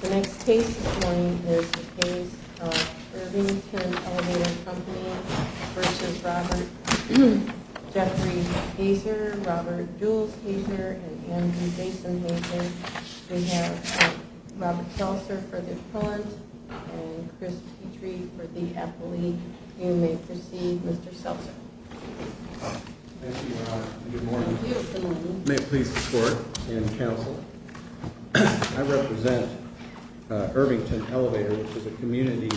The next case this morning is the case of Irvington Elevator Co., Inc. v. Robert Jeffrey Heser, Robert Jules Heser, and Andrew Jason Heser. We have Robert Seltzer for the Appellant and Chris Petrie for the Appellee. You may proceed, Mr. Seltzer. Thank you, Your Honor. Good morning. May it please the Court and Counsel, I represent Irvington Elevator, which is a community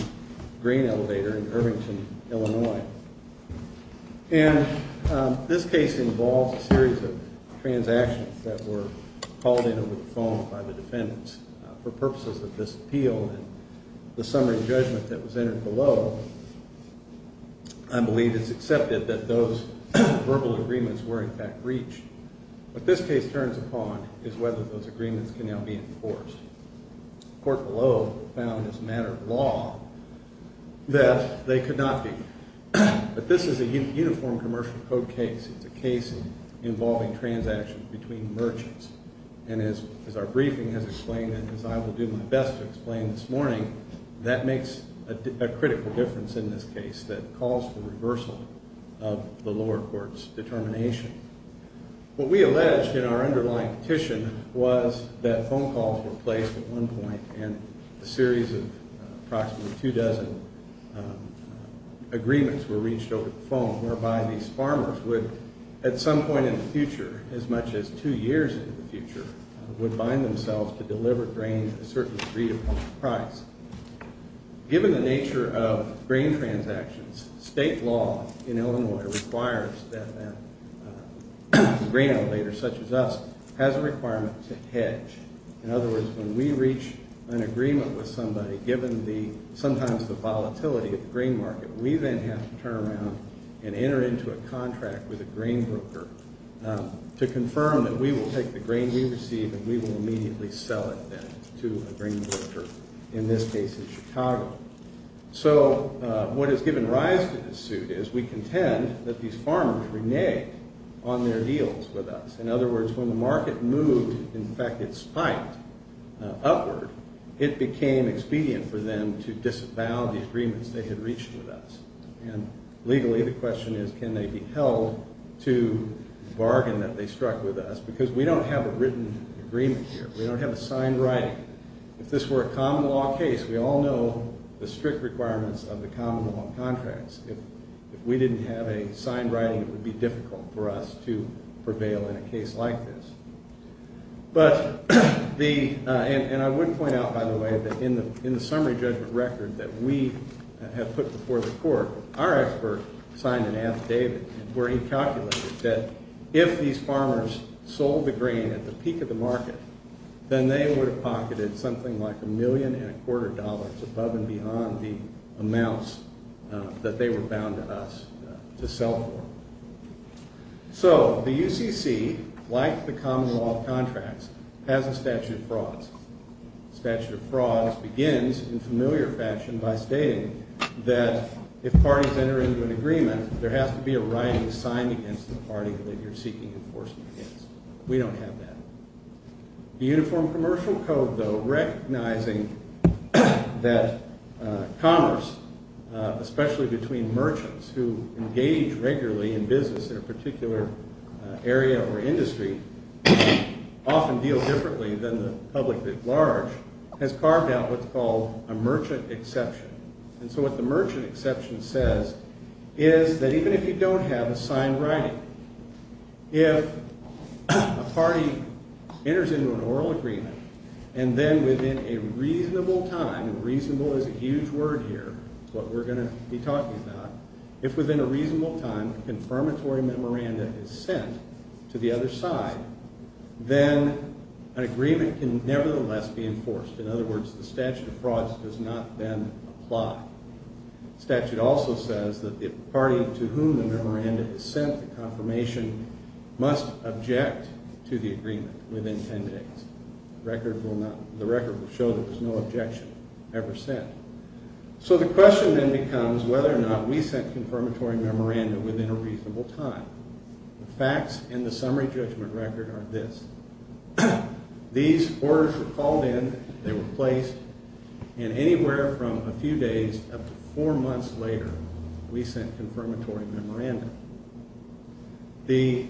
green elevator in Irvington, Illinois. And this case involves a series of transactions that were called in over the phone by the defendants. For purposes of this appeal and the summary judgment that was entered below, I believe it's accepted that those verbal agreements were in fact breached. What this case turns upon is whether those agreements can now be enforced. The Court below found as a matter of law that they could not be. But this is a uniform commercial code case. It's a case involving transactions between merchants. And as our briefing has explained and as I will do my best to explain this morning, that makes a critical difference in this case that calls for reversal of the lower court's determination. What we alleged in our underlying petition was that phone calls were placed at one point and a series of approximately two dozen agreements were reached over the phone whereby these farmers would at some point in the future, as much as two years into the future, would bind themselves to deliver grain at a certain degree of price. Given the nature of grain transactions, state law in Illinois requires that a grain elevator such as us has a requirement to hedge. In other words, when we reach an agreement with somebody, given sometimes the volatility of the grain market, we then have to turn around and enter into a contract with a grain broker to confirm that we will take the grain we receive and we will immediately sell it then to a grain broker, in this case in Chicago. So what has given rise to this suit is we contend that these farmers reneged on their deals with us. In other words, when the market moved, in fact it spiked upward, it became expedient for them to disavow the agreements they had reached with us. And legally the question is can they be held to the bargain that they struck with us because we don't have a written agreement here. We don't have a signed writing. If this were a common law case, we all know the strict requirements of the common law contracts. If we didn't have a signed writing, it would be difficult for us to prevail in a case like this. And I would point out, by the way, that in the summary judgment record that we have put before the court, our expert signed an affidavit where he calculated that if these farmers sold the grain at the peak of the market, then they would have pocketed something like a million and a quarter dollars above and beyond the amounts that they were bound to us to sell for. So the UCC, like the common law contracts, has a statute of frauds. Statute of frauds begins in familiar fashion by stating that if parties enter into an agreement, there has to be a writing signed against the party that you're seeking enforcement against. We don't have that. The Uniform Commercial Code, though, recognizing that commerce, especially between merchants who engage regularly in business in a particular area or industry, often deals differently than the public at large, has carved out what's called a merchant exception. And so what the merchant exception says is that even if you don't have a signed writing, if a party enters into an oral agreement and then within a reasonable time, and reasonable is a huge word here, what we're going to be talking about, if within a reasonable time a confirmatory memoranda is sent to the other side, then an agreement can nevertheless be enforced. In other words, the statute of frauds does not then apply. The statute also says that the party to whom the memoranda is sent, the confirmation, must object to the agreement within 10 days. The record will show that there's no objection ever sent. So the question then becomes whether or not we sent a confirmatory memoranda within a reasonable time. The facts in the summary judgment record are this. These orders were called in, they were placed, and anywhere from a few days up to four months later we sent confirmatory memoranda. The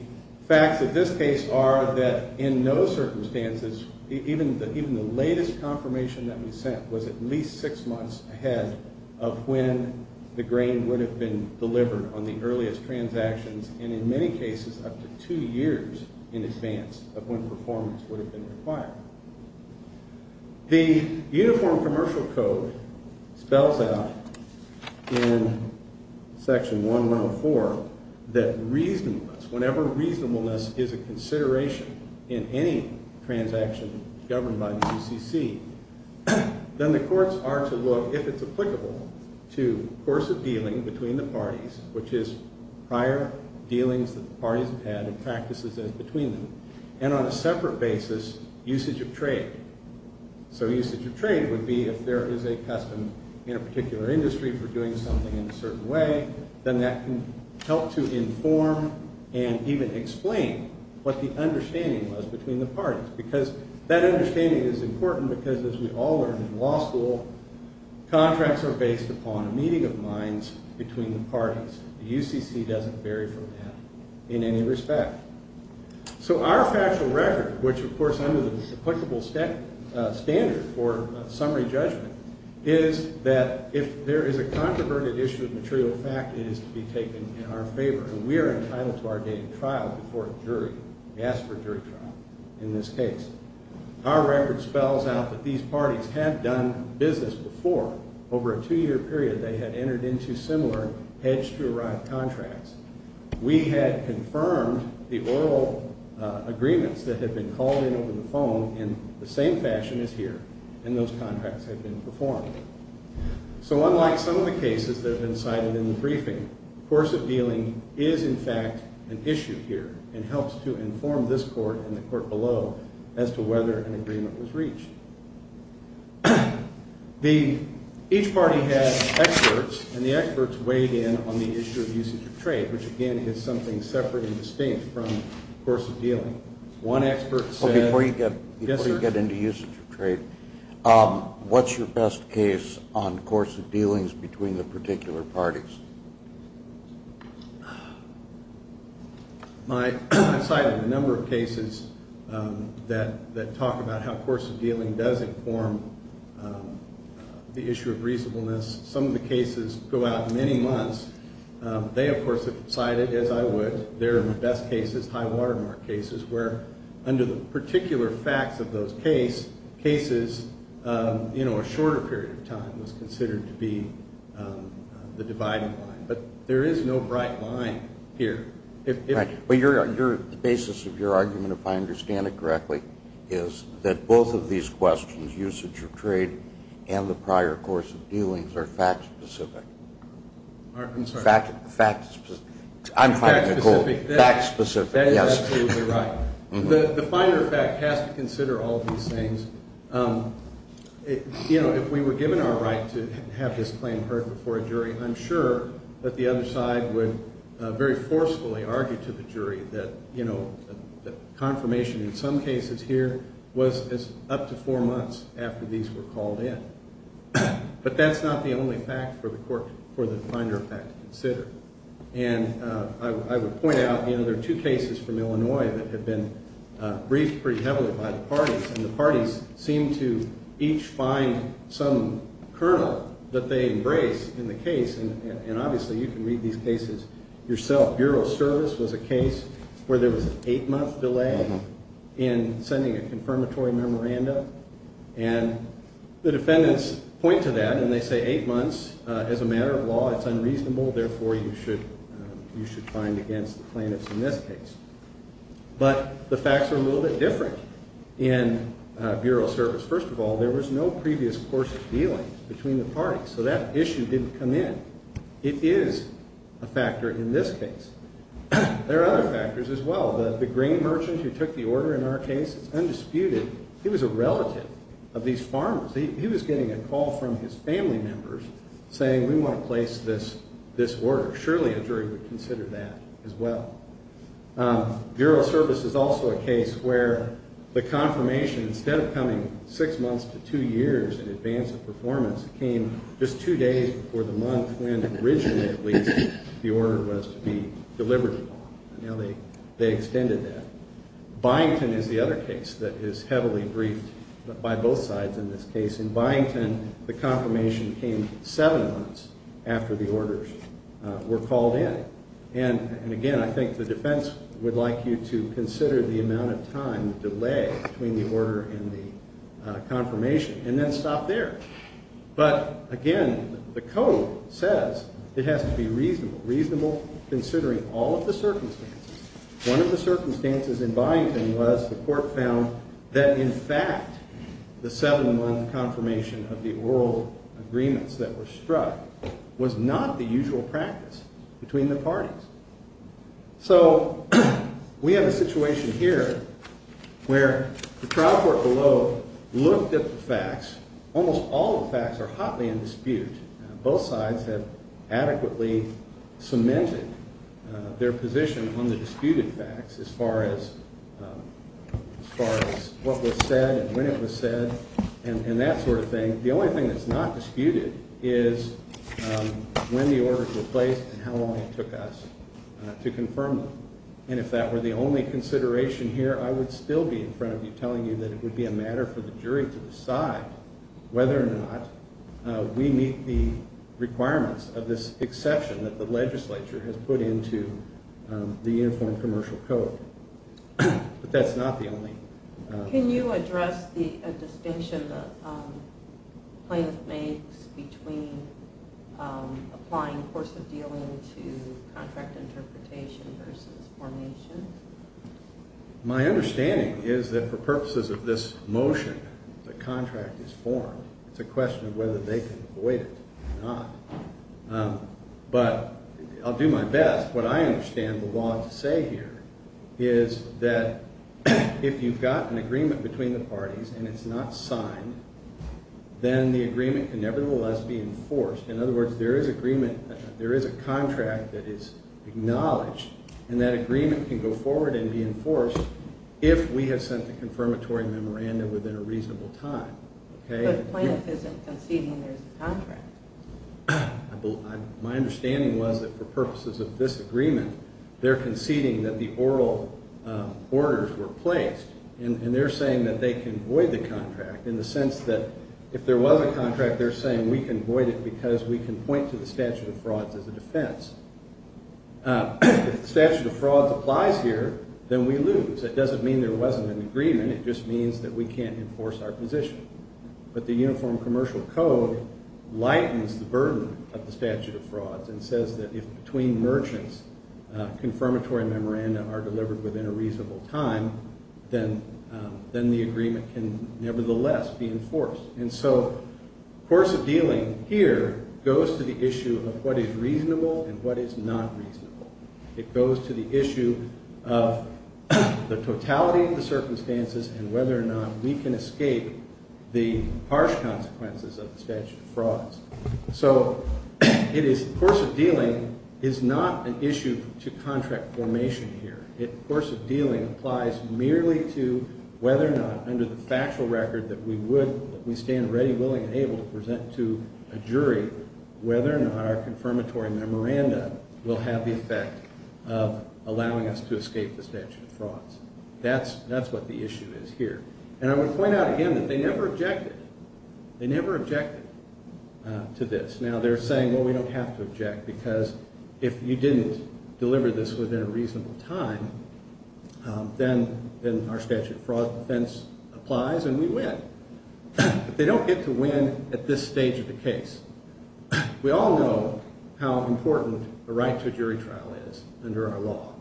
facts of this case are that in no circumstances, even the latest confirmation that we sent was at least six months ahead of when the grain would have been delivered on the earliest transactions, and in many cases up to two years in advance of when performance would have been required. The Uniform Commercial Code spells out in Section 1104 that reasonableness, whenever reasonableness is a consideration in any transaction governed by the UCC, then the courts are to look, if it's applicable, to coercive dealing between the parties, which is prior dealings that the parties have had and practices as between them, and on a separate basis, usage of trade. So usage of trade would be if there is a custom in a particular industry for doing something in a certain way, then that can help to inform and even explain what the understanding was between the parties, because that understanding is important because, as we all learned in law school, contracts are based upon a meeting of minds between the parties. The UCC doesn't vary from that in any respect. So our factual record, which, of course, under the applicable standard for summary judgment, is that if there is a controverted issue of material fact, it is to be taken in our favor, and we are entitled to our date of trial before a jury. We ask for a jury trial in this case. Our record spells out that these parties had done business before. Over a two-year period, they had entered into similar hedged-to-arrive contracts. We had confirmed the oral agreements that had been called in over the phone in the same fashion as here, and those contracts had been performed. So unlike some of the cases that have been cited in the briefing, course of dealing is, in fact, an issue here and helps to inform this court and the court below as to whether an agreement was reached. Each party had experts, and the experts weighed in on the issue of usage of trade, which, again, is something separate and distinct from course of dealing. One expert said, Before you get into usage of trade, what's your best case on course of dealings between the particular parties? I've cited a number of cases that talk about how course of dealing does inform the issue of reasonableness. Some of the cases go out many months. They, of course, have cited, as I would, their best cases, high-water mark cases, where under the particular facts of those cases, a shorter period of time was considered to be the dividing line. But there is no bright line here. Right. The basis of your argument, if I understand it correctly, is that both of these questions, usage of trade and the prior course of dealings, are fact-specific. I'm sorry? Fact-specific. I'm finding a goal. Fact-specific. That is absolutely right. The finer fact has to consider all of these things. You know, if we were given our right to have this claim heard before a jury, I'm sure that the other side would very forcefully argue to the jury that, you know, that confirmation in some cases here was up to four months after these were called in. But that's not the only fact for the court, for the finer fact to consider. And I would point out, you know, there are two cases from Illinois that have been briefed pretty heavily by the parties, and the parties seem to each find some kernel that they embrace in the case, and obviously you can read these cases yourself. Bureau of Service was a case where there was an eight-month delay in sending a confirmatory memoranda, and the defendants point to that, and they say eight months is a matter of law. It's unreasonable. Therefore, you should find against the plaintiffs in this case. But the facts are a little bit different in Bureau of Service. First of all, there was no previous course of dealing between the parties, so that issue didn't come in. It is a factor in this case. There are other factors as well. The grain merchant who took the order in our case, it's undisputed, he was a relative of these farmers. He was getting a call from his family members saying we want to place this order. Surely a jury would consider that as well. Bureau of Service is also a case where the confirmation, instead of coming six months to two years in advance of performance, came just two days before the month when originally at least the order was to be delivered. Now they extended that. Byington is the other case that is heavily briefed by both sides in this case. In Byington, the confirmation came seven months after the orders were called in. And, again, I think the defense would like you to consider the amount of time, the delay between the order and the confirmation, and then stop there. But, again, the code says it has to be reasonable, reasonable considering all of the circumstances. One of the circumstances in Byington was the court found that, in fact, the seven-month confirmation of the oral agreements that were struck was not the usual practice between the parties. So we have a situation here where the trial court below looked at the facts. Almost all the facts are hotly in dispute. Both sides have adequately cemented their position on the disputed facts as far as what was said and when it was said and that sort of thing. The only thing that's not disputed is when the orders were placed and how long it took us to confirm them. And if that were the only consideration here, I would still be in front of you telling you that it would be a matter for the jury to decide whether or not we meet the requirements of this exception that the legislature has put into the Uniform Commercial Code. But that's not the only- Can you address the distinction the plaintiff makes between applying course of dealing to contract interpretation versus formation? My understanding is that for purposes of this motion, the contract is formed. It's a question of whether they can avoid it or not. But I'll do my best. What I understand the law to say here is that if you've got an agreement between the parties and it's not signed, then the agreement can nevertheless be enforced. In other words, there is agreement. There is a contract that is acknowledged. And that agreement can go forward and be enforced if we have sent the confirmatory memorandum within a reasonable time. But the plaintiff isn't conceding there's a contract. My understanding was that for purposes of this agreement, they're conceding that the oral orders were placed. And they're saying that they can void the contract in the sense that if there was a contract, they're saying we can void it because we can point to the statute of frauds as a defense. If the statute of frauds applies here, then we lose. It doesn't mean there wasn't an agreement. It just means that we can't enforce our position. But the Uniform Commercial Code lightens the burden of the statute of frauds and says that if between merchants, confirmatory memoranda are delivered within a reasonable time, then the agreement can nevertheless be enforced. And so course of dealing here goes to the issue of what is reasonable and what is not reasonable. It goes to the issue of the totality of the circumstances and whether or not we can escape the harsh consequences of the statute of frauds. So course of dealing is not an issue to contract formation here. Course of dealing applies merely to whether or not under the factual record that we would, that we stand ready, willing, and able to present to a jury whether or not our confirmatory memoranda will have the effect of allowing us to escape the statute of frauds. That's what the issue is here. And I would point out again that they never objected. They never objected to this. Now, they're saying, well, we don't have to object because if you didn't deliver this within a reasonable time, then our statute of fraud defense applies and we win. But they don't get to win at this stage of the case. We all know how important a right to a jury trial is under our law.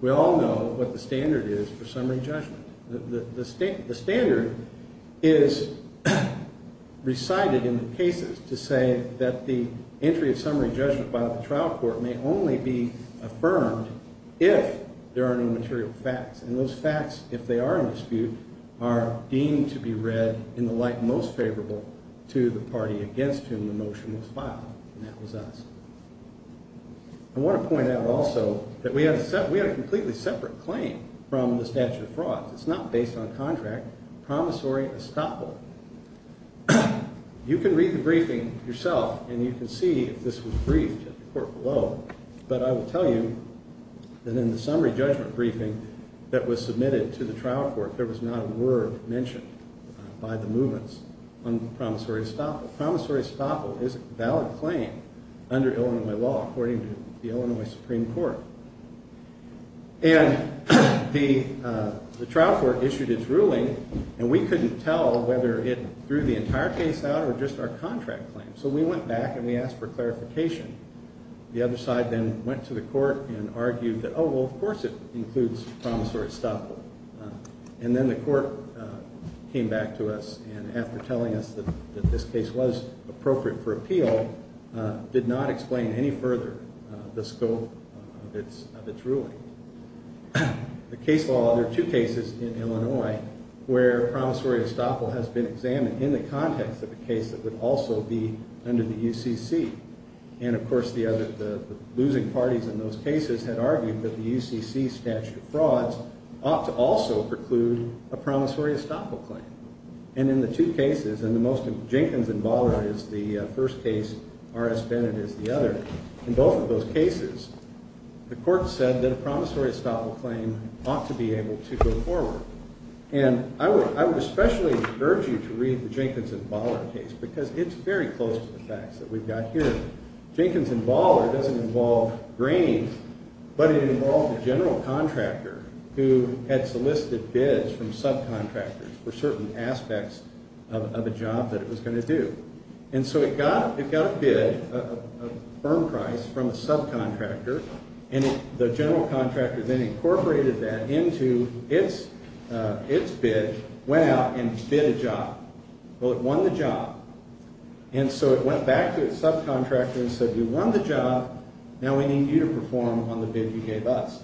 We all know what the standard is for summary judgment. The standard is recited in the cases to say that the entry of summary judgment by the trial court may only be affirmed if there are no material facts. And those facts, if they are in dispute, are deemed to be read in the light most favorable to the party against whom the motion was filed. And that was us. I want to point out also that we had a completely separate claim from the statute of frauds. It's not based on contract. Promissory estoppel. You can read the briefing yourself and you can see if this was briefed at the court below. But I will tell you that in the summary judgment briefing that was submitted to the trial court, there was not a word mentioned by the movements on promissory estoppel. Promissory estoppel is a valid claim under Illinois law, according to the Illinois Supreme Court. And the trial court issued its ruling, and we couldn't tell whether it threw the entire case out or just our contract claim. So we went back and we asked for clarification. The other side then went to the court and argued that, oh, well, of course it includes promissory estoppel. And then the court came back to us and after telling us that this case was appropriate for appeal, did not explain any further the scope of its ruling. The case law, there are two cases in Illinois where promissory estoppel has been examined in the context of a case that would also be under the UCC. And, of course, the losing parties in those cases had argued that the UCC statute of frauds ought to also preclude a promissory estoppel claim. And in the two cases, and the most of Jenkins and Baller is the first case, R.S. Bennett is the other, in both of those cases, the court said that a promissory estoppel claim ought to be able to go forward. And I would especially urge you to read the Jenkins and Baller case because it's very close to the facts that we've got here. Jenkins and Baller doesn't involve grains, but it involved a general contractor who had solicited bids from subcontractors for certain aspects of a job that it was going to do. And so it got a bid, a firm price from a subcontractor, and the general contractor then incorporated that into its bid, went out and bid a job. Well, it won the job. And so it went back to its subcontractor and said, We won the job. Now we need you to perform on the bid you gave us.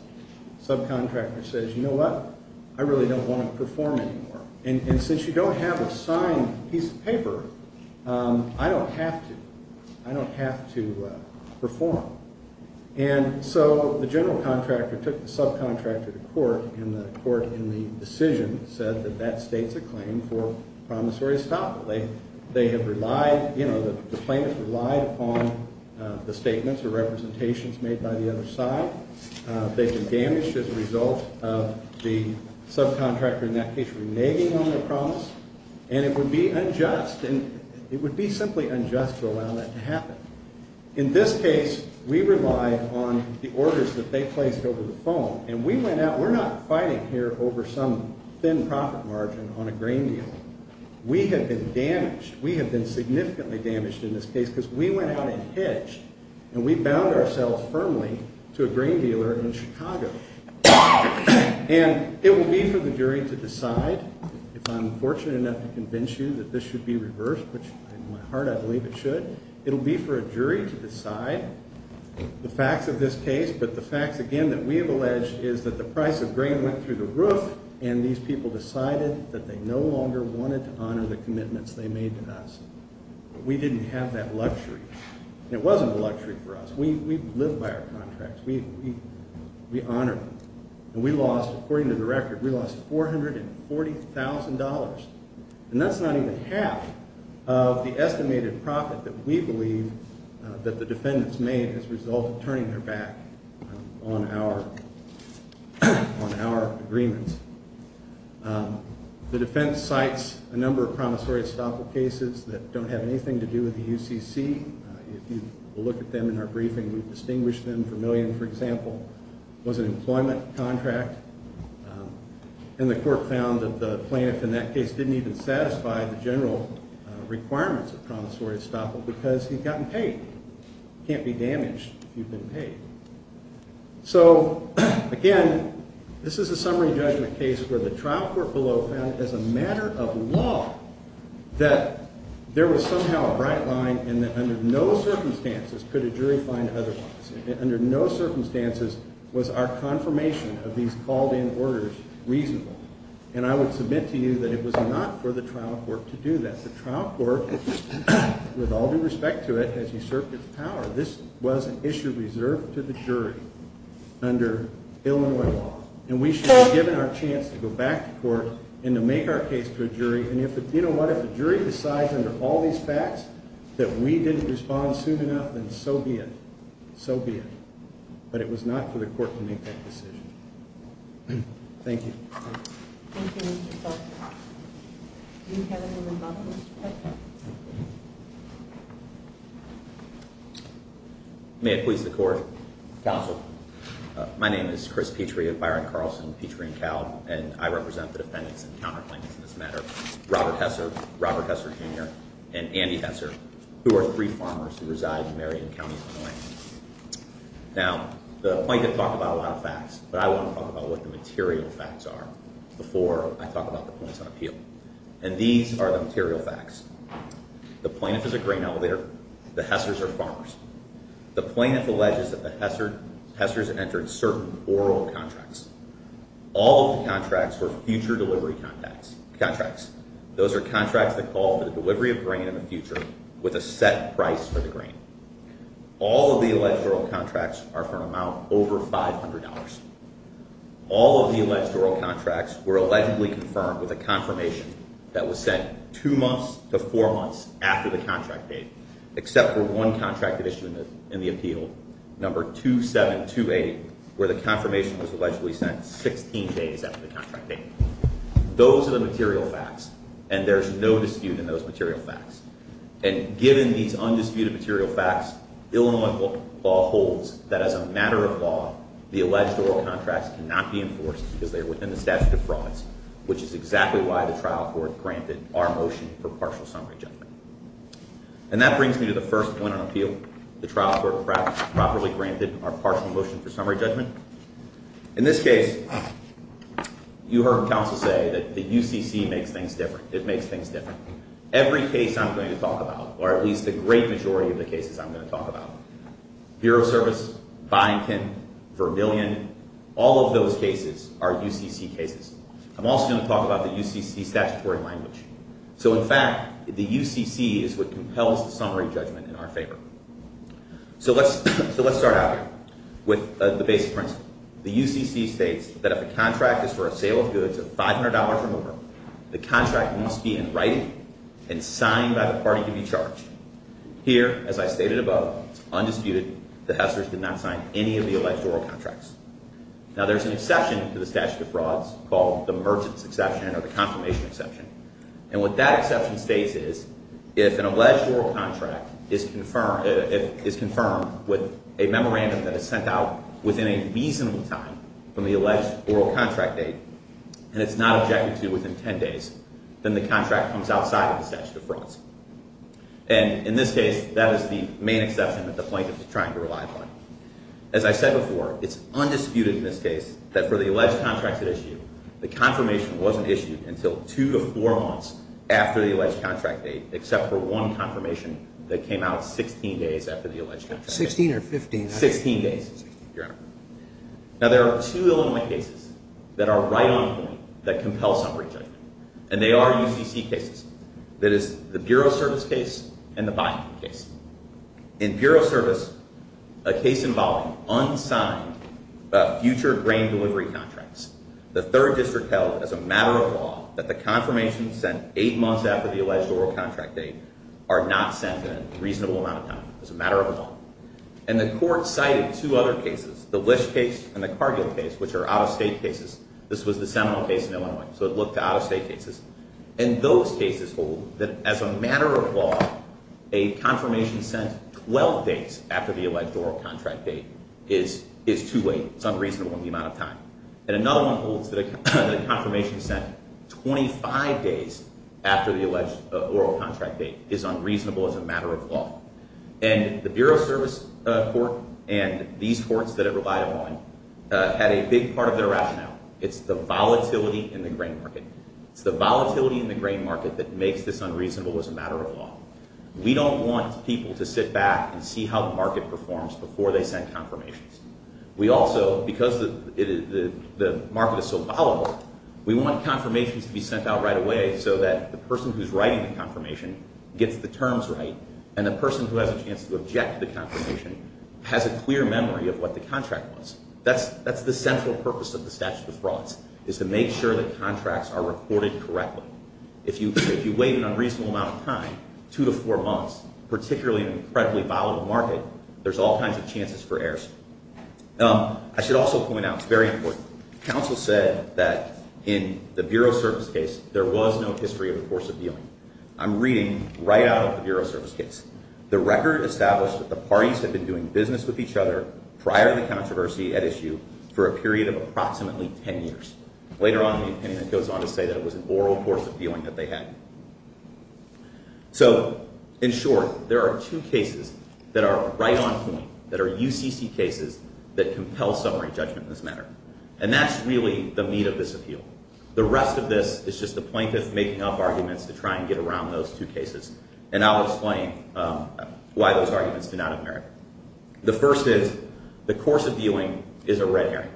The subcontractor says, You know what? I really don't want to perform anymore. And since you don't have a signed piece of paper, I don't have to. I don't have to perform. And the court in the decision said that that states a claim for promissory estoppel. They have relied, you know, the plaintiff relied upon the statements or representations made by the other side. They've been damaged as a result of the subcontractor in that case reneging on their promise. And it would be unjust, and it would be simply unjust to allow that to happen. In this case, we relied on the orders that they placed over the phone. And we went out. We're not fighting here over some thin profit margin on a grain deal. We have been damaged. We have been significantly damaged in this case because we went out and hedged, and we bound ourselves firmly to a grain dealer in Chicago. And it will be for the jury to decide, if I'm fortunate enough to convince you that this should be reversed, which in my heart I believe it should, it will be for a jury to decide the facts of this case, but the facts, again, that we have alleged is that the price of grain went through the roof, and these people decided that they no longer wanted to honor the commitments they made to us. We didn't have that luxury. It wasn't a luxury for us. We lived by our contracts. We honored them. And we lost, according to the record, we lost $440,000. And that's not even half of the estimated profit that we believe that the defendants made as a result of turning their back on our agreements. The defense cites a number of promissory estoppel cases that don't have anything to do with the UCC. If you look at them in our briefing, we've distinguished them. Vermillion, for example, was an employment contract. And the court found that the plaintiff in that case didn't even satisfy the general requirements of promissory estoppel because he'd gotten paid. You can't be damaged if you've been paid. So, again, this is a summary judgment case where the trial court below found as a matter of law that there was somehow a bright line and that under no circumstances could a jury find otherwise. Under no circumstances was our confirmation of these called-in orders reasonable. And I would submit to you that it was not for the trial court to do that. The trial court, with all due respect to it, has usurped its power. This was an issue reserved to the jury under Illinois law. And we should have given our chance to go back to court and to make our case to a jury. And you know what? If a jury decides under all these facts that we didn't respond soon enough, then so be it. So be it. But it was not for the court to make that decision. Thank you. Thank you, Mr. Seltzer. Do we have anyone above us? May it please the court. Counsel. My name is Chris Petrie of Byron Carlson Petrie & Cowd, and I represent the defendants in counterclaims in this matter, Robert Hesser, Robert Hesser, Jr., and Andy Hesser, who are three farmers who reside in Marion County, Illinois. Now, the plaintiff talked about a lot of facts, but I want to talk about what the material facts are before I talk about the points on appeal. And these are the material facts. The plaintiff is a grain elevator. The Hessers are farmers. The plaintiff alleges that the Hessers entered certain oral contracts. All of the contracts were future delivery contracts. Those are contracts that call for the delivery of grain in the future with a set price for the grain. All of the alleged oral contracts are for an amount over $500. All of the alleged oral contracts were allegedly confirmed with a confirmation that was sent two months to four months after the contract date, except for one contract addition in the appeal, number 2728, where the confirmation was allegedly sent 16 days after the contract date. Those are the material facts, and there's no dispute in those material facts. And given these undisputed material facts, Illinois law holds that as a matter of law, the alleged oral contracts cannot be enforced because they are within the statute of frauds, which is exactly why the trial court granted our motion for partial summary judgment. And that brings me to the first point on appeal. The trial court properly granted our partial motion for summary judgment. In this case, you heard counsel say that the UCC makes things different. It makes things different. Every case I'm going to talk about, or at least the great majority of the cases I'm going to talk about, Bureau of Service, Byington, Vermillion, all of those cases are UCC cases. I'm also going to talk about the UCC statutory language. So in fact, the UCC is what compels the summary judgment in our favor. So let's start out here with the basic principle. The UCC states that if a contract is for a sale of goods of $500 or more, the contract must be in writing and signed by the party to be charged. Here, as I stated above, it's undisputed the Hesslers did not sign any of the alleged oral contracts. Now, there's an exception to the statute of frauds called the merchant's exception or the confirmation exception. And what that exception states is if an alleged oral contract is confirmed with a memorandum that is sent out within a reasonable time from the alleged oral contract date and it's not objected to within 10 days, then the contract comes outside of the statute of frauds. And in this case, that is the main exception that the plaintiff is trying to rely upon. As I said before, it's undisputed in this case that for the alleged contracts at issue, the confirmation wasn't issued until two to four months after the alleged contract date except for one confirmation that came out 16 days after the alleged contract date. Sixteen or fifteen? Sixteen days, Your Honor. Now, there are two Illinois cases that are right on point that compel summary judgment. And they are UCC cases. That is the Bureau Service case and the buy-in case. In Bureau Service, a case involving unsigned future grain delivery contracts, the third district held as a matter of law that the confirmations sent eight months after the alleged oral contract date are not sent in a reasonable amount of time as a matter of law. And the court cited two other cases, the Lish case and the Cargill case, which are out-of-state cases. This was the Seminole case in Illinois, so it looked to out-of-state cases. And those cases hold that as a matter of law, a confirmation sent 12 days after the alleged oral contract date is too late, it's unreasonable in the amount of time. And another one holds that a confirmation sent 25 days after the alleged oral contract date is unreasonable as a matter of law. And the Bureau Service court and these courts that it relied upon had a big part of their rationale. It's the volatility in the grain market. It's the volatility in the grain market that makes this unreasonable as a matter of law. We don't want people to sit back and see how the market performs before they send confirmations. We also, because the market is so volatile, we want confirmations to be sent out right away so that the person who's writing the confirmation gets the terms right and the person who has a chance to object to the confirmation has a clear memory of what the contract was. That's the central purpose of the statute of frauds, is to make sure the contracts are recorded correctly. If you wait an unreasonable amount of time, two to four months, particularly in an incredibly volatile market, there's all kinds of chances for errors. I should also point out, it's very important, counsel said that in the Bureau Service case there was no history of the course of dealing. I'm reading right out of the Bureau Service case. The record established that the parties had been doing business with each other prior to the controversy at issue for a period of approximately 10 years. Later on, the opinion goes on to say that it was an oral course of dealing that they had. So, in short, there are two cases that are right on point, that are UCC cases that compel summary judgment in this matter, and that's really the meat of this appeal. The rest of this is just the plaintiff making up arguments to try and get around those two cases, and I'll explain why those arguments do not appear. The first is, the course of dealing is a red herring.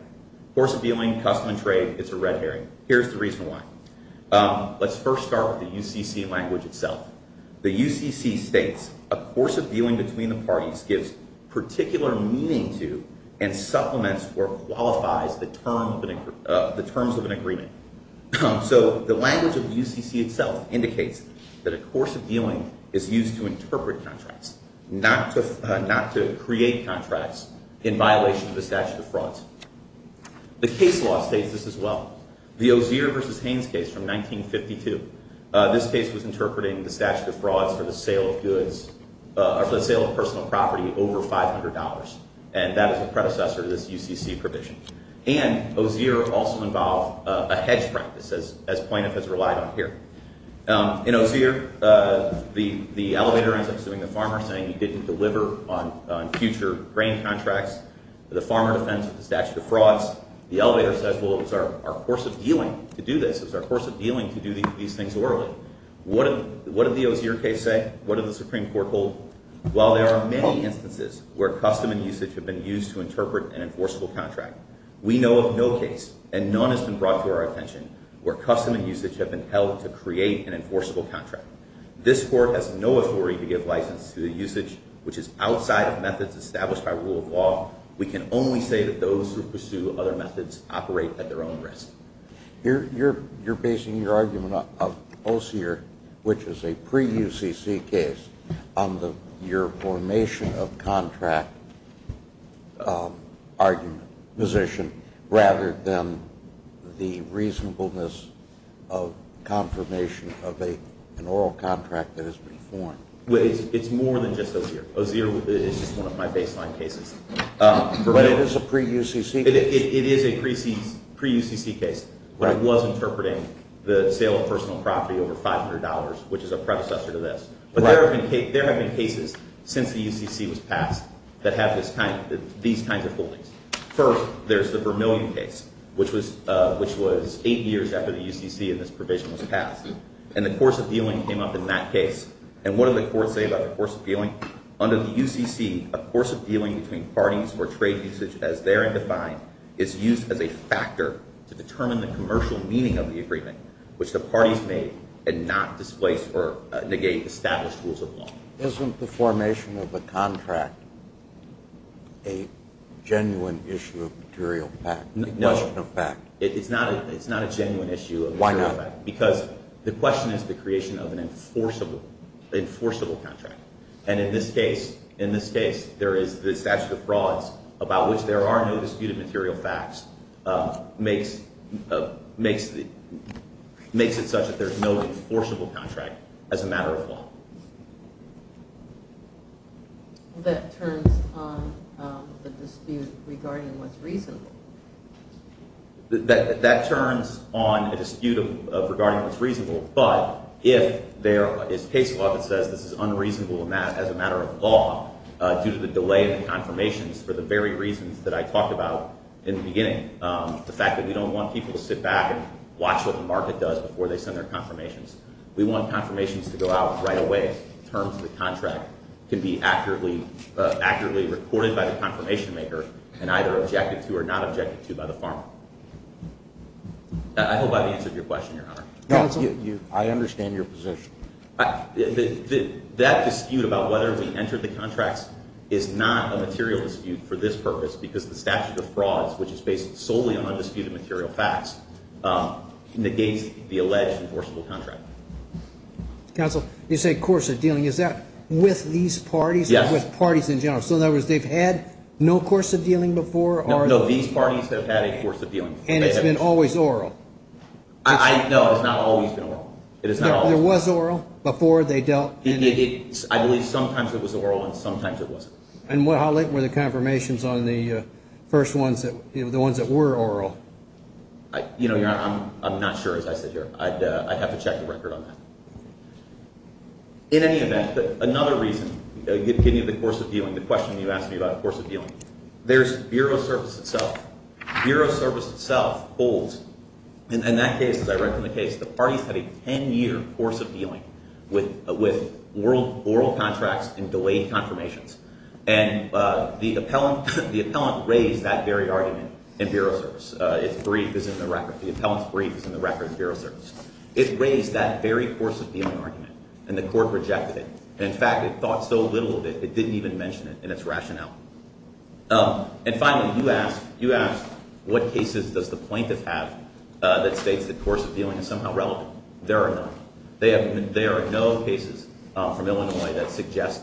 Course of dealing, custom and trade, it's a red herring. Here's the reason why. Let's first start with the UCC language itself. The UCC states, a course of dealing between the parties gives particular meaning to and supplements or qualifies the terms of an agreement. So, the language of UCC itself indicates that a course of dealing is used to interpret contracts, not to create contracts in violation of the statute of frauds. The case law states this as well. The Ozier v. Haynes case from 1952, this case was interpreting the statute of frauds for the sale of personal property over $500, and that is a predecessor to this UCC provision. And Ozier also involved a hedge grant, as plaintiff has relied on here. In Ozier, the elevator ends up suing the farmer saying he didn't deliver on future grain contracts. The farmer defends the statute of frauds. The elevator says, well, it was our course of dealing to do this. It was our course of dealing to do these things orderly. What did the Ozier case say? What did the Supreme Court hold? Well, there are many instances where custom and usage have been used to interpret an enforceable contract. We know of no case, and none has been brought to our attention, where custom and usage have been held to create an enforceable contract. This Court has no authority to give license to the usage, which is outside of methods established by rule of law. We can only say that those who pursue other methods operate at their own risk. You're basing your argument of Ozier, which is a pre-UCC case, on your formation of contract argument position, rather than the reasonableness of confirmation of an oral contract that has been formed. It's more than just Ozier. Ozier is just one of my baseline cases. But it is a pre-UCC case. It is a pre-UCC case, but it was interpreting the sale of personal property over $500, which is a predecessor to this. But there have been cases since the UCC was passed that have these kinds of holdings. First, there's the Vermillion case, which was eight years after the UCC and this provision was passed. And the course of dealing came up in that case. And what did the Court say about the course of dealing? Under the UCC, a course of dealing between parties or trade usage as therein defined is used as a factor to determine the commercial meaning of the agreement, which the parties made and not displace or negate established rules of law. Isn't the formation of a contract a genuine issue of material fact? No. It's not a genuine issue of material fact. Why not? Because the question is the creation of an enforceable contract. And in this case, there is the statute of frauds about which there are no disputed material facts makes it such that there's no enforceable contract as a matter of law. That turns on the dispute regarding what's reasonable. That turns on a dispute regarding what's reasonable, but if there is case law that says this is unreasonable as a matter of law due to the delay in the confirmations for the very reasons that I talked about in the beginning, the fact that we don't want people to sit back and watch what the market does before they send their confirmations. We want confirmations to go out right away. Terms of the contract can be accurately recorded by the confirmation maker and either objected to or not objected to by the farmer. I hope I've answered your question, Your Honor. I understand your position. That dispute about whether we entered the contracts is not a material dispute for this purpose because the statute of frauds, which is based solely on undisputed material facts, negates the alleged enforceable contract. Counsel, you say course of dealing. Is that with these parties or with parties in general? So in other words, they've had no course of dealing before? No, these parties have had a course of dealing. And it's been always oral? No, it has not always been oral. There was oral before they dealt? I believe sometimes it was oral and sometimes it wasn't. And how late were the confirmations on the first ones, the ones that were oral? Your Honor, I'm not sure as I sit here. I'd have to check the record on that. In any event, another reason, giving you the course of dealing, the question you asked me about the course of dealing, there's Bureau of Service itself. Bureau of Service itself holds, and in that case, as I read from the case, the parties had a 10-year course of dealing with oral contracts and delayed confirmations. And the appellant raised that very argument in Bureau of Service. Its brief is in the record. The appellant's brief is in the record in Bureau of Service. It raised that very course of dealing argument, and the court rejected it. In fact, it thought so little of it, it didn't even mention it in its rationale. And finally, you asked what cases does the plaintiff have that states the course of dealing is somehow relevant. There are none. There are no cases from Illinois that suggest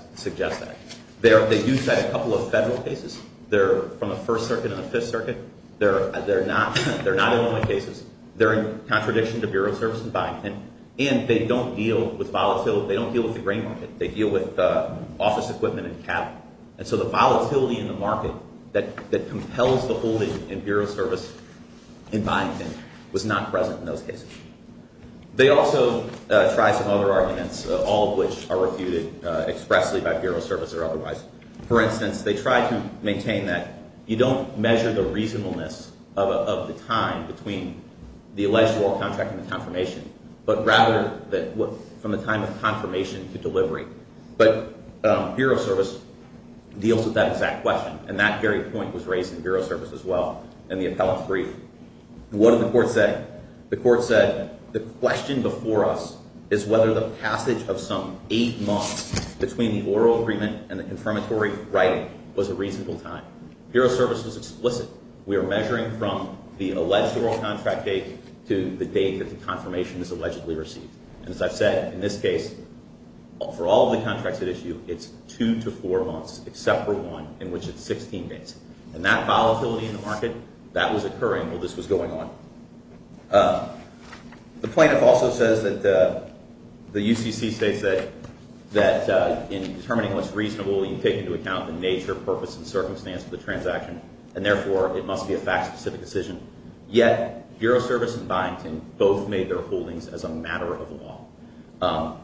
that. They do cite a couple of federal cases. They're from the First Circuit and the Fifth Circuit. They're not Illinois cases. They're in contradiction to Bureau of Service in Byington, and they don't deal with volatility. They don't deal with the grain market. They deal with office equipment and cattle. And so the volatility in the market that compels the holding in Bureau of Service in Byington was not present in those cases. They also tried some other arguments, all of which are refuted expressly by Bureau of Service or otherwise. For instance, they tried to maintain that you don't measure the reasonableness of the time between the alleged oral contract and the confirmation, but rather from the time of confirmation to delivery. But Bureau of Service deals with that exact question, and that very point was raised in Bureau of Service as well in the appellate brief. What did the court say? The court said the question before us is whether the passage of some eight months between the oral agreement and the confirmatory writing was a reasonable time. Bureau of Service was explicit. We are measuring from the alleged oral contract date to the date that the confirmation is allegedly received. And as I've said, in this case, for all of the contracts at issue, it's two to four months except for one in which it's 16 days. And that volatility in the market, that was occurring while this was going on. The plaintiff also says that the UCC states that in determining what's reasonable, you take into account the nature, purpose, and circumstance of the transaction, and therefore, it must be a fact-specific decision. Yet Bureau of Service and Byington both made their holdings as a matter of law.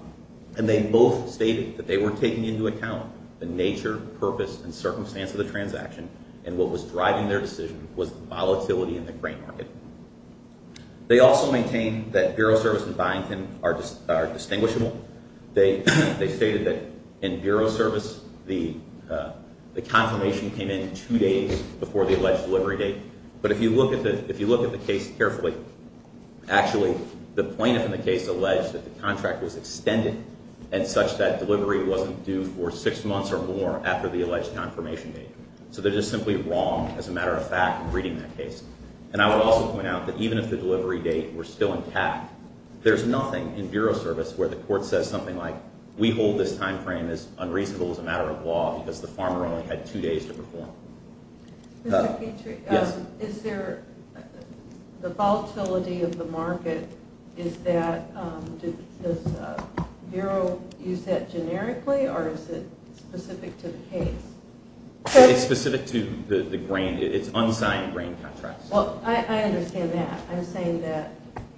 And they both stated that they were taking into account the nature, purpose, and circumstance of the transaction, and what was driving their decision was the volatility in the grain market. They also maintain that Bureau of Service and Byington are distinguishable. They stated that in Bureau of Service, the confirmation came in two days before the alleged delivery date. But if you look at the case carefully, actually, the plaintiff in the case alleged that the contract was extended, and such that delivery wasn't due for six months or more after the alleged confirmation date. So they're just simply wrong, as a matter of fact, in reading that case. And I would also point out that even if the delivery date were still intact, there's nothing in Bureau of Service where the court says something like, we hold this time frame as unreasonable as a matter of law because the farmer only had two days to perform. Mr. Petrie, is there the volatility of the market, is that, does Bureau use that generically, or is it specific to the case? It's specific to the grain. It's unsigned grain contracts. Well, I understand that. I'm saying that,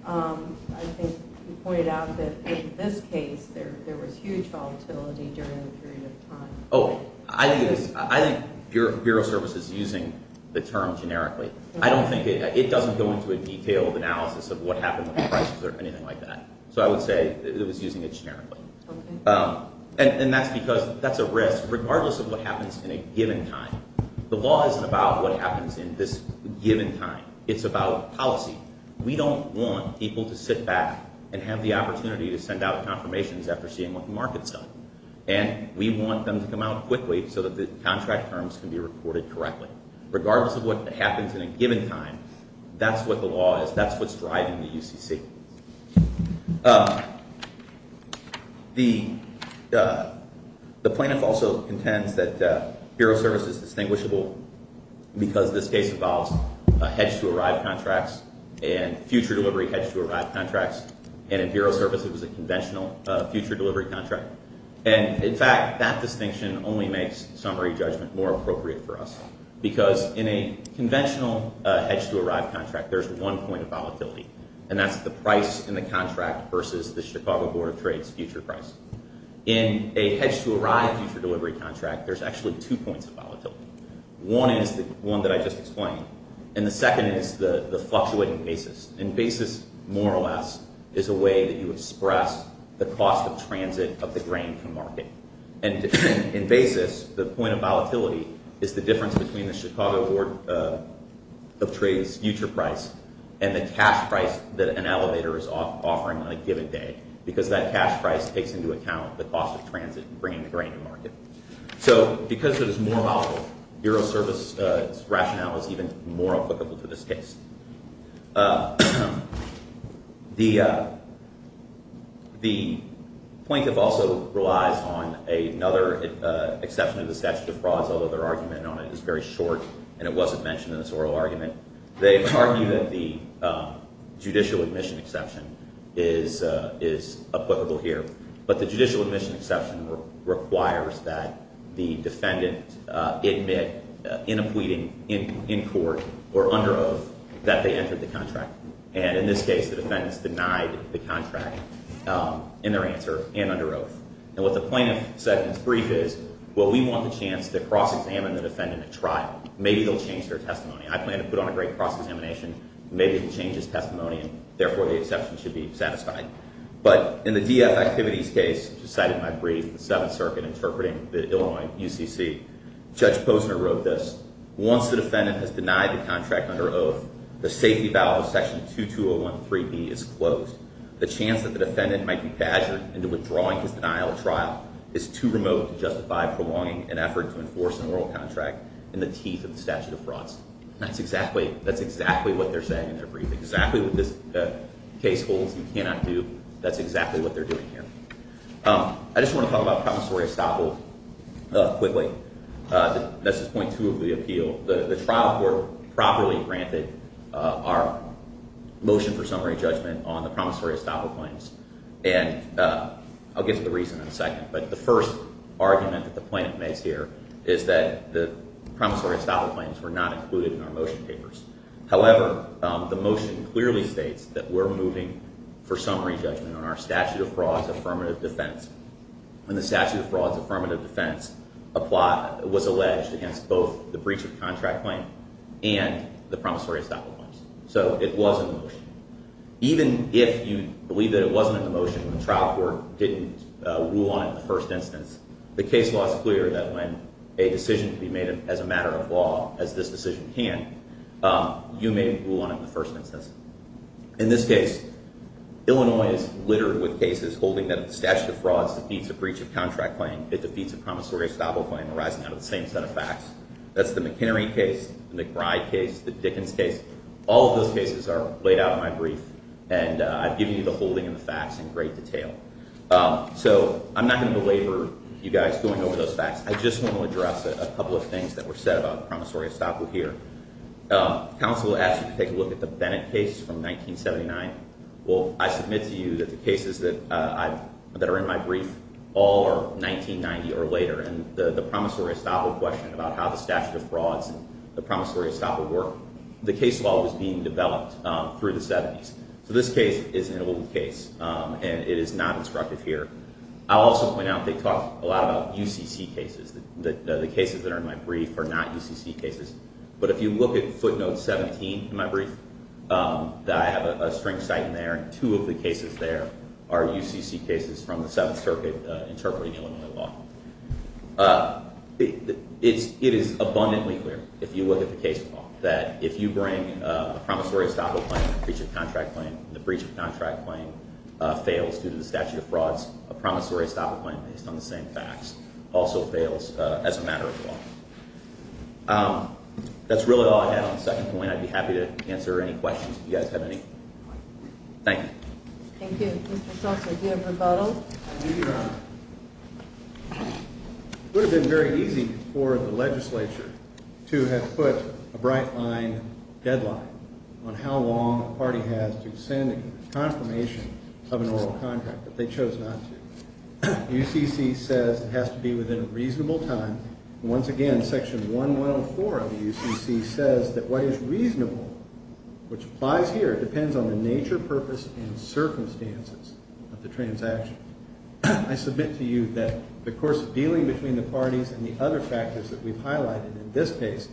I think you pointed out that in this case, there was huge volatility during the period of time. Oh, I think Bureau of Service is using the term generically. I don't think, it doesn't go into a detailed analysis of what happened with the prices or anything like that. So I would say it was using it generically. And that's because that's a risk, regardless of what happens in a given time. The law isn't about what happens in this given time. It's about policy. We don't want people to sit back and have the opportunity to send out confirmations after seeing what the market's done. And we want them to come out quickly so that the contract terms can be reported correctly. Regardless of what happens in a given time, that's what the law is, that's what's driving the UCC. The plaintiff also intends that Bureau of Service is distinguishable because this case involves hedge-to-arrive contracts and future delivery hedge-to-arrive contracts. And in Bureau of Service, it was a conventional future delivery contract. And in fact, that distinction only makes summary judgment more appropriate for us. Because in a conventional hedge-to-arrive contract, there's one point of volatility. And that's the price in the contract versus the Chicago Board of Trade's future price. In a hedge-to-arrive future delivery contract, there's actually two points of volatility. One is the one that I just explained. And the second is the fluctuating basis. And basis, more or less, is a way that you express the cost of transit of the grain to market. And in basis, the point of volatility is the difference between the Chicago Board of Trade's future price and the cash price that an elevator is offering on a given day. Because that cash price takes into account the cost of transit and bringing the grain to market. So because it is more volatile, Bureau of Service's rationale is even more applicable to this case. The plaintiff also relies on another exception to the statute of frauds, although their argument on it is very short and it wasn't mentioned in this oral argument. They argue that the judicial admission exception is applicable here. But the judicial admission exception requires that the defendant admit in a pleading in court or under oath that they entered the contract. And in this case, the defendants denied the contract in their answer and under oath. And what the plaintiff said in its brief is, well, we want the chance to cross-examine the defendant at trial. Maybe they'll change their testimony. I plan to put on a great cross-examination. Maybe it changes testimony, and therefore the exception should be satisfied. But in the DF Activities case, which is cited in my brief, the Seventh Circuit interpreting the Illinois UCC, Judge Posner wrote this. Once the defendant has denied the contract under oath, the safety valve of section 2201.3b is closed. The chance that the defendant might be badgered into withdrawing his denial at trial is too remote to justify prolonging an effort to enforce an oral contract in the teeth of the statute of frauds. That's exactly what they're saying in their brief. Exactly what this case holds, you cannot do. That's exactly what they're doing here. I just want to talk about promissory estoppel quickly. This is point two of the appeal. The trial court properly granted our motion for summary judgment on the promissory estoppel claims. And I'll get to the reason in a second. But the first argument that the plaintiff makes here is that the promissory estoppel claims were not included in our motion papers. However, the motion clearly states that we're moving for summary judgment on our statute of frauds affirmative defense. And the statute of frauds affirmative defense was alleged against both the breach of contract claim and the promissory estoppel claims. So it was in the motion. Even if you believe that it wasn't in the motion, the trial court didn't rule on it in the first instance, the case law is clear that when a decision can be made as a matter of law, as this decision can, you may rule on it in the first instance. In this case, Illinois is littered with cases holding that if the statute of frauds defeats a breach of contract claim, it defeats a promissory estoppel claim arising out of the same set of facts. That's the McHenry case, the McBride case, the Dickens case. All of those cases are laid out in my brief, and I've given you the holding and the facts in great detail. So I'm not going to belabor you guys going over those facts. I just want to address a couple of things that were said about the promissory estoppel here. Counsel asked me to take a look at the Bennett case from 1979. Well, I submit to you that the cases that are in my brief all are 1990 or later, and the promissory estoppel question about how the statute of frauds and the promissory estoppel work, the case law was being developed through the 70s. So this case is an old case, and it is not instructive here. I'll also point out they talk a lot about UCC cases. The cases that are in my brief are not UCC cases. But if you look at footnote 17 in my brief, I have a string cite in there, and two of the cases there are UCC cases from the Seventh Circuit interpreting Illinois law. It is abundantly clear, if you look at the case law, that if you bring a promissory estoppel claim and a breach of contract claim, and the breach of contract claim fails due to the statute of frauds, a promissory estoppel claim based on the same facts also fails as a matter of law. That's really all I had on the second point. I'd be happy to answer any questions if you guys have any. Thank you. Thank you. Mr. Schultz, do you have rebuttal? I do, Your Honor. It would have been very easy for the legislature to have put a bright-line deadline on how long a party has to send a confirmation of an oral contract, but they chose not to. UCC says it has to be within a reasonable time. Once again, Section 1104 of the UCC says that what is reasonable, which applies here, depends on the nature, purpose, and circumstances of the transaction. I submit to you that the course of dealing between the parties and the other factors that we've highlighted in this case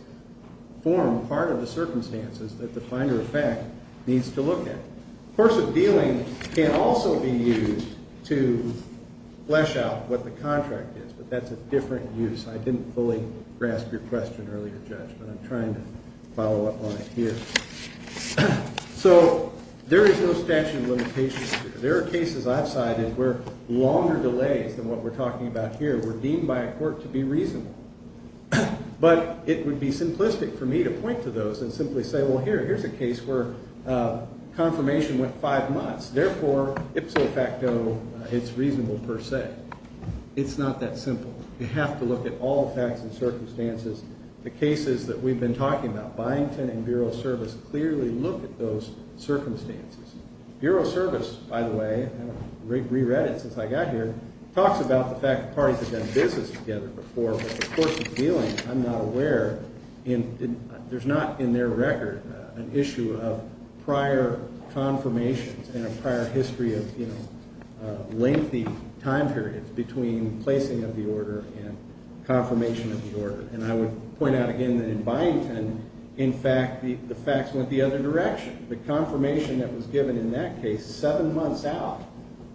form part of the circumstances that the finder of fact needs to look at. The course of dealing can also be used to flesh out what the contract is, but that's a different use. I didn't fully grasp your question earlier, Judge, but I'm trying to follow up on it here. So there is no statute of limitations here. There are cases I've cited where longer delays than what we're talking about here were deemed by a court to be reasonable. But it would be simplistic for me to point to those and simply say, well, here, here's a case where confirmation went five months. Therefore, ipso facto, it's reasonable per se. It's not that simple. You have to look at all the facts and circumstances. The cases that we've been talking about, Byington and Bureau of Service, clearly look at those circumstances. Bureau of Service, by the way, re-read it since I got here, talks about the fact that parties have done business together before, but the course of dealing, I'm not aware. There's not in their record an issue of prior confirmations and a prior history of lengthy time periods between placing of the order and confirmation of the order. And I would point out again that in Byington, in fact, the facts went the other direction. The confirmation that was given in that case seven months out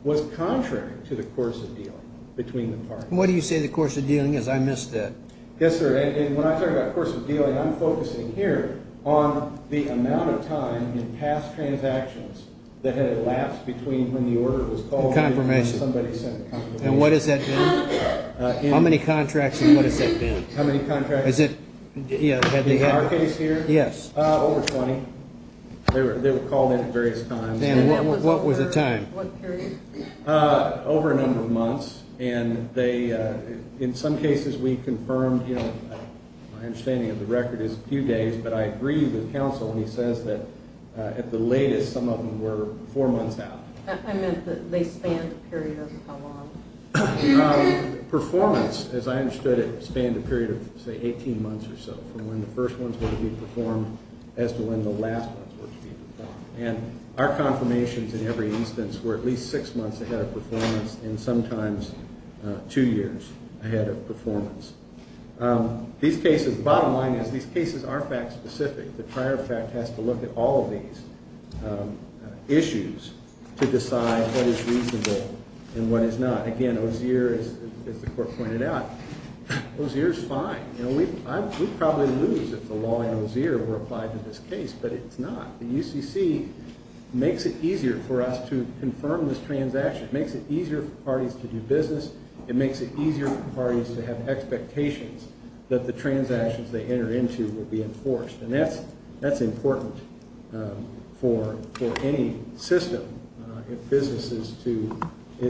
was contrary to the course of dealing between the parties. What do you say the course of dealing is? I missed that. Yes, sir. And when I talk about course of dealing, I'm focusing here on the amount of time in past transactions that had elapsed between when the order was called and when somebody sent the confirmation. And what has that been? How many contracts and what has that been? How many contracts? Is it in our case here? Yes. Over 20. They were called in at various times. And what was the time? What period? Over a number of months. And in some cases we confirmed, you know, my understanding of the record is a few days, but I agree with counsel when he says that at the latest some of them were four months out. I meant that they spanned a period of how long? Performance, as I understood it, spanned a period of, say, 18 months or so from when the first ones were to be performed as to when the last ones were to be performed. And our confirmations in every instance were at least six months ahead of performance and sometimes two years ahead of performance. These cases, the bottom line is these cases are fact specific. The prior fact has to look at all of these issues to decide what is reasonable and what is not. Again, OSEER, as the court pointed out, OSEER is fine. You know, we'd probably lose if the law in OSEER were applied to this case, but it's not. The UCC makes it easier for us to confirm this transaction. It makes it easier for parties to do business. It makes it easier for parties to have expectations that the transactions they enter into will be enforced. And that's important for any system if business is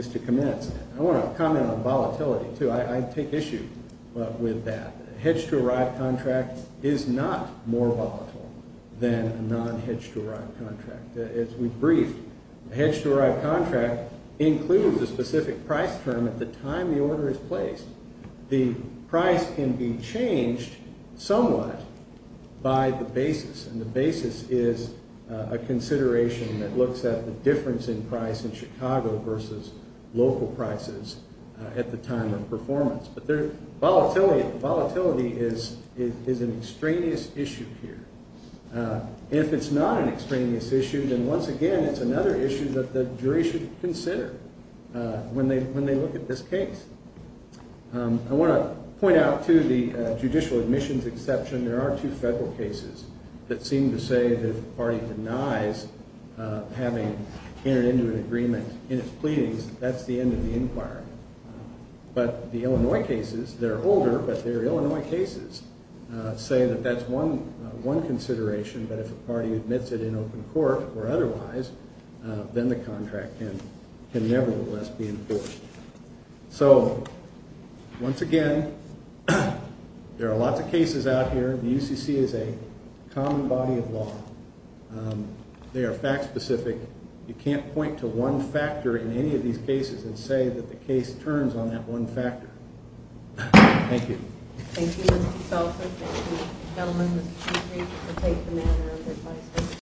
to commence. I want to comment on volatility, too. I take issue with that. A hedge-to-arrive contract is not more volatile than a non-hedge-to-arrive contract. As we've briefed, a hedge-to-arrive contract includes a specific price term at the time the order is placed. The price can be changed somewhat by the basis, and the basis is a consideration that looks at the difference in price in Chicago versus local prices at the time of performance. But volatility is an extraneous issue here. If it's not an extraneous issue, then once again, it's another issue that the jury should consider when they look at this case. I want to point out, too, the judicial admissions exception. There are two federal cases that seem to say that if a party denies having entered into an agreement in its pleadings, that's the end of the inquiry. But the Illinois cases, they're older, but they're Illinois cases, say that that's one consideration, but if a party admits it in open court or otherwise, then the contract can nevertheless be enforced. So once again, there are lots of cases out here. The UCC is a common body of law. They are fact-specific. You can't point to one factor in any of these cases and say that the case turns on that one factor. Thank you. Thank you, Mr. Seltzer. Thank you, gentlemen, Mr. Chief Reef, for taking the manner of your time today.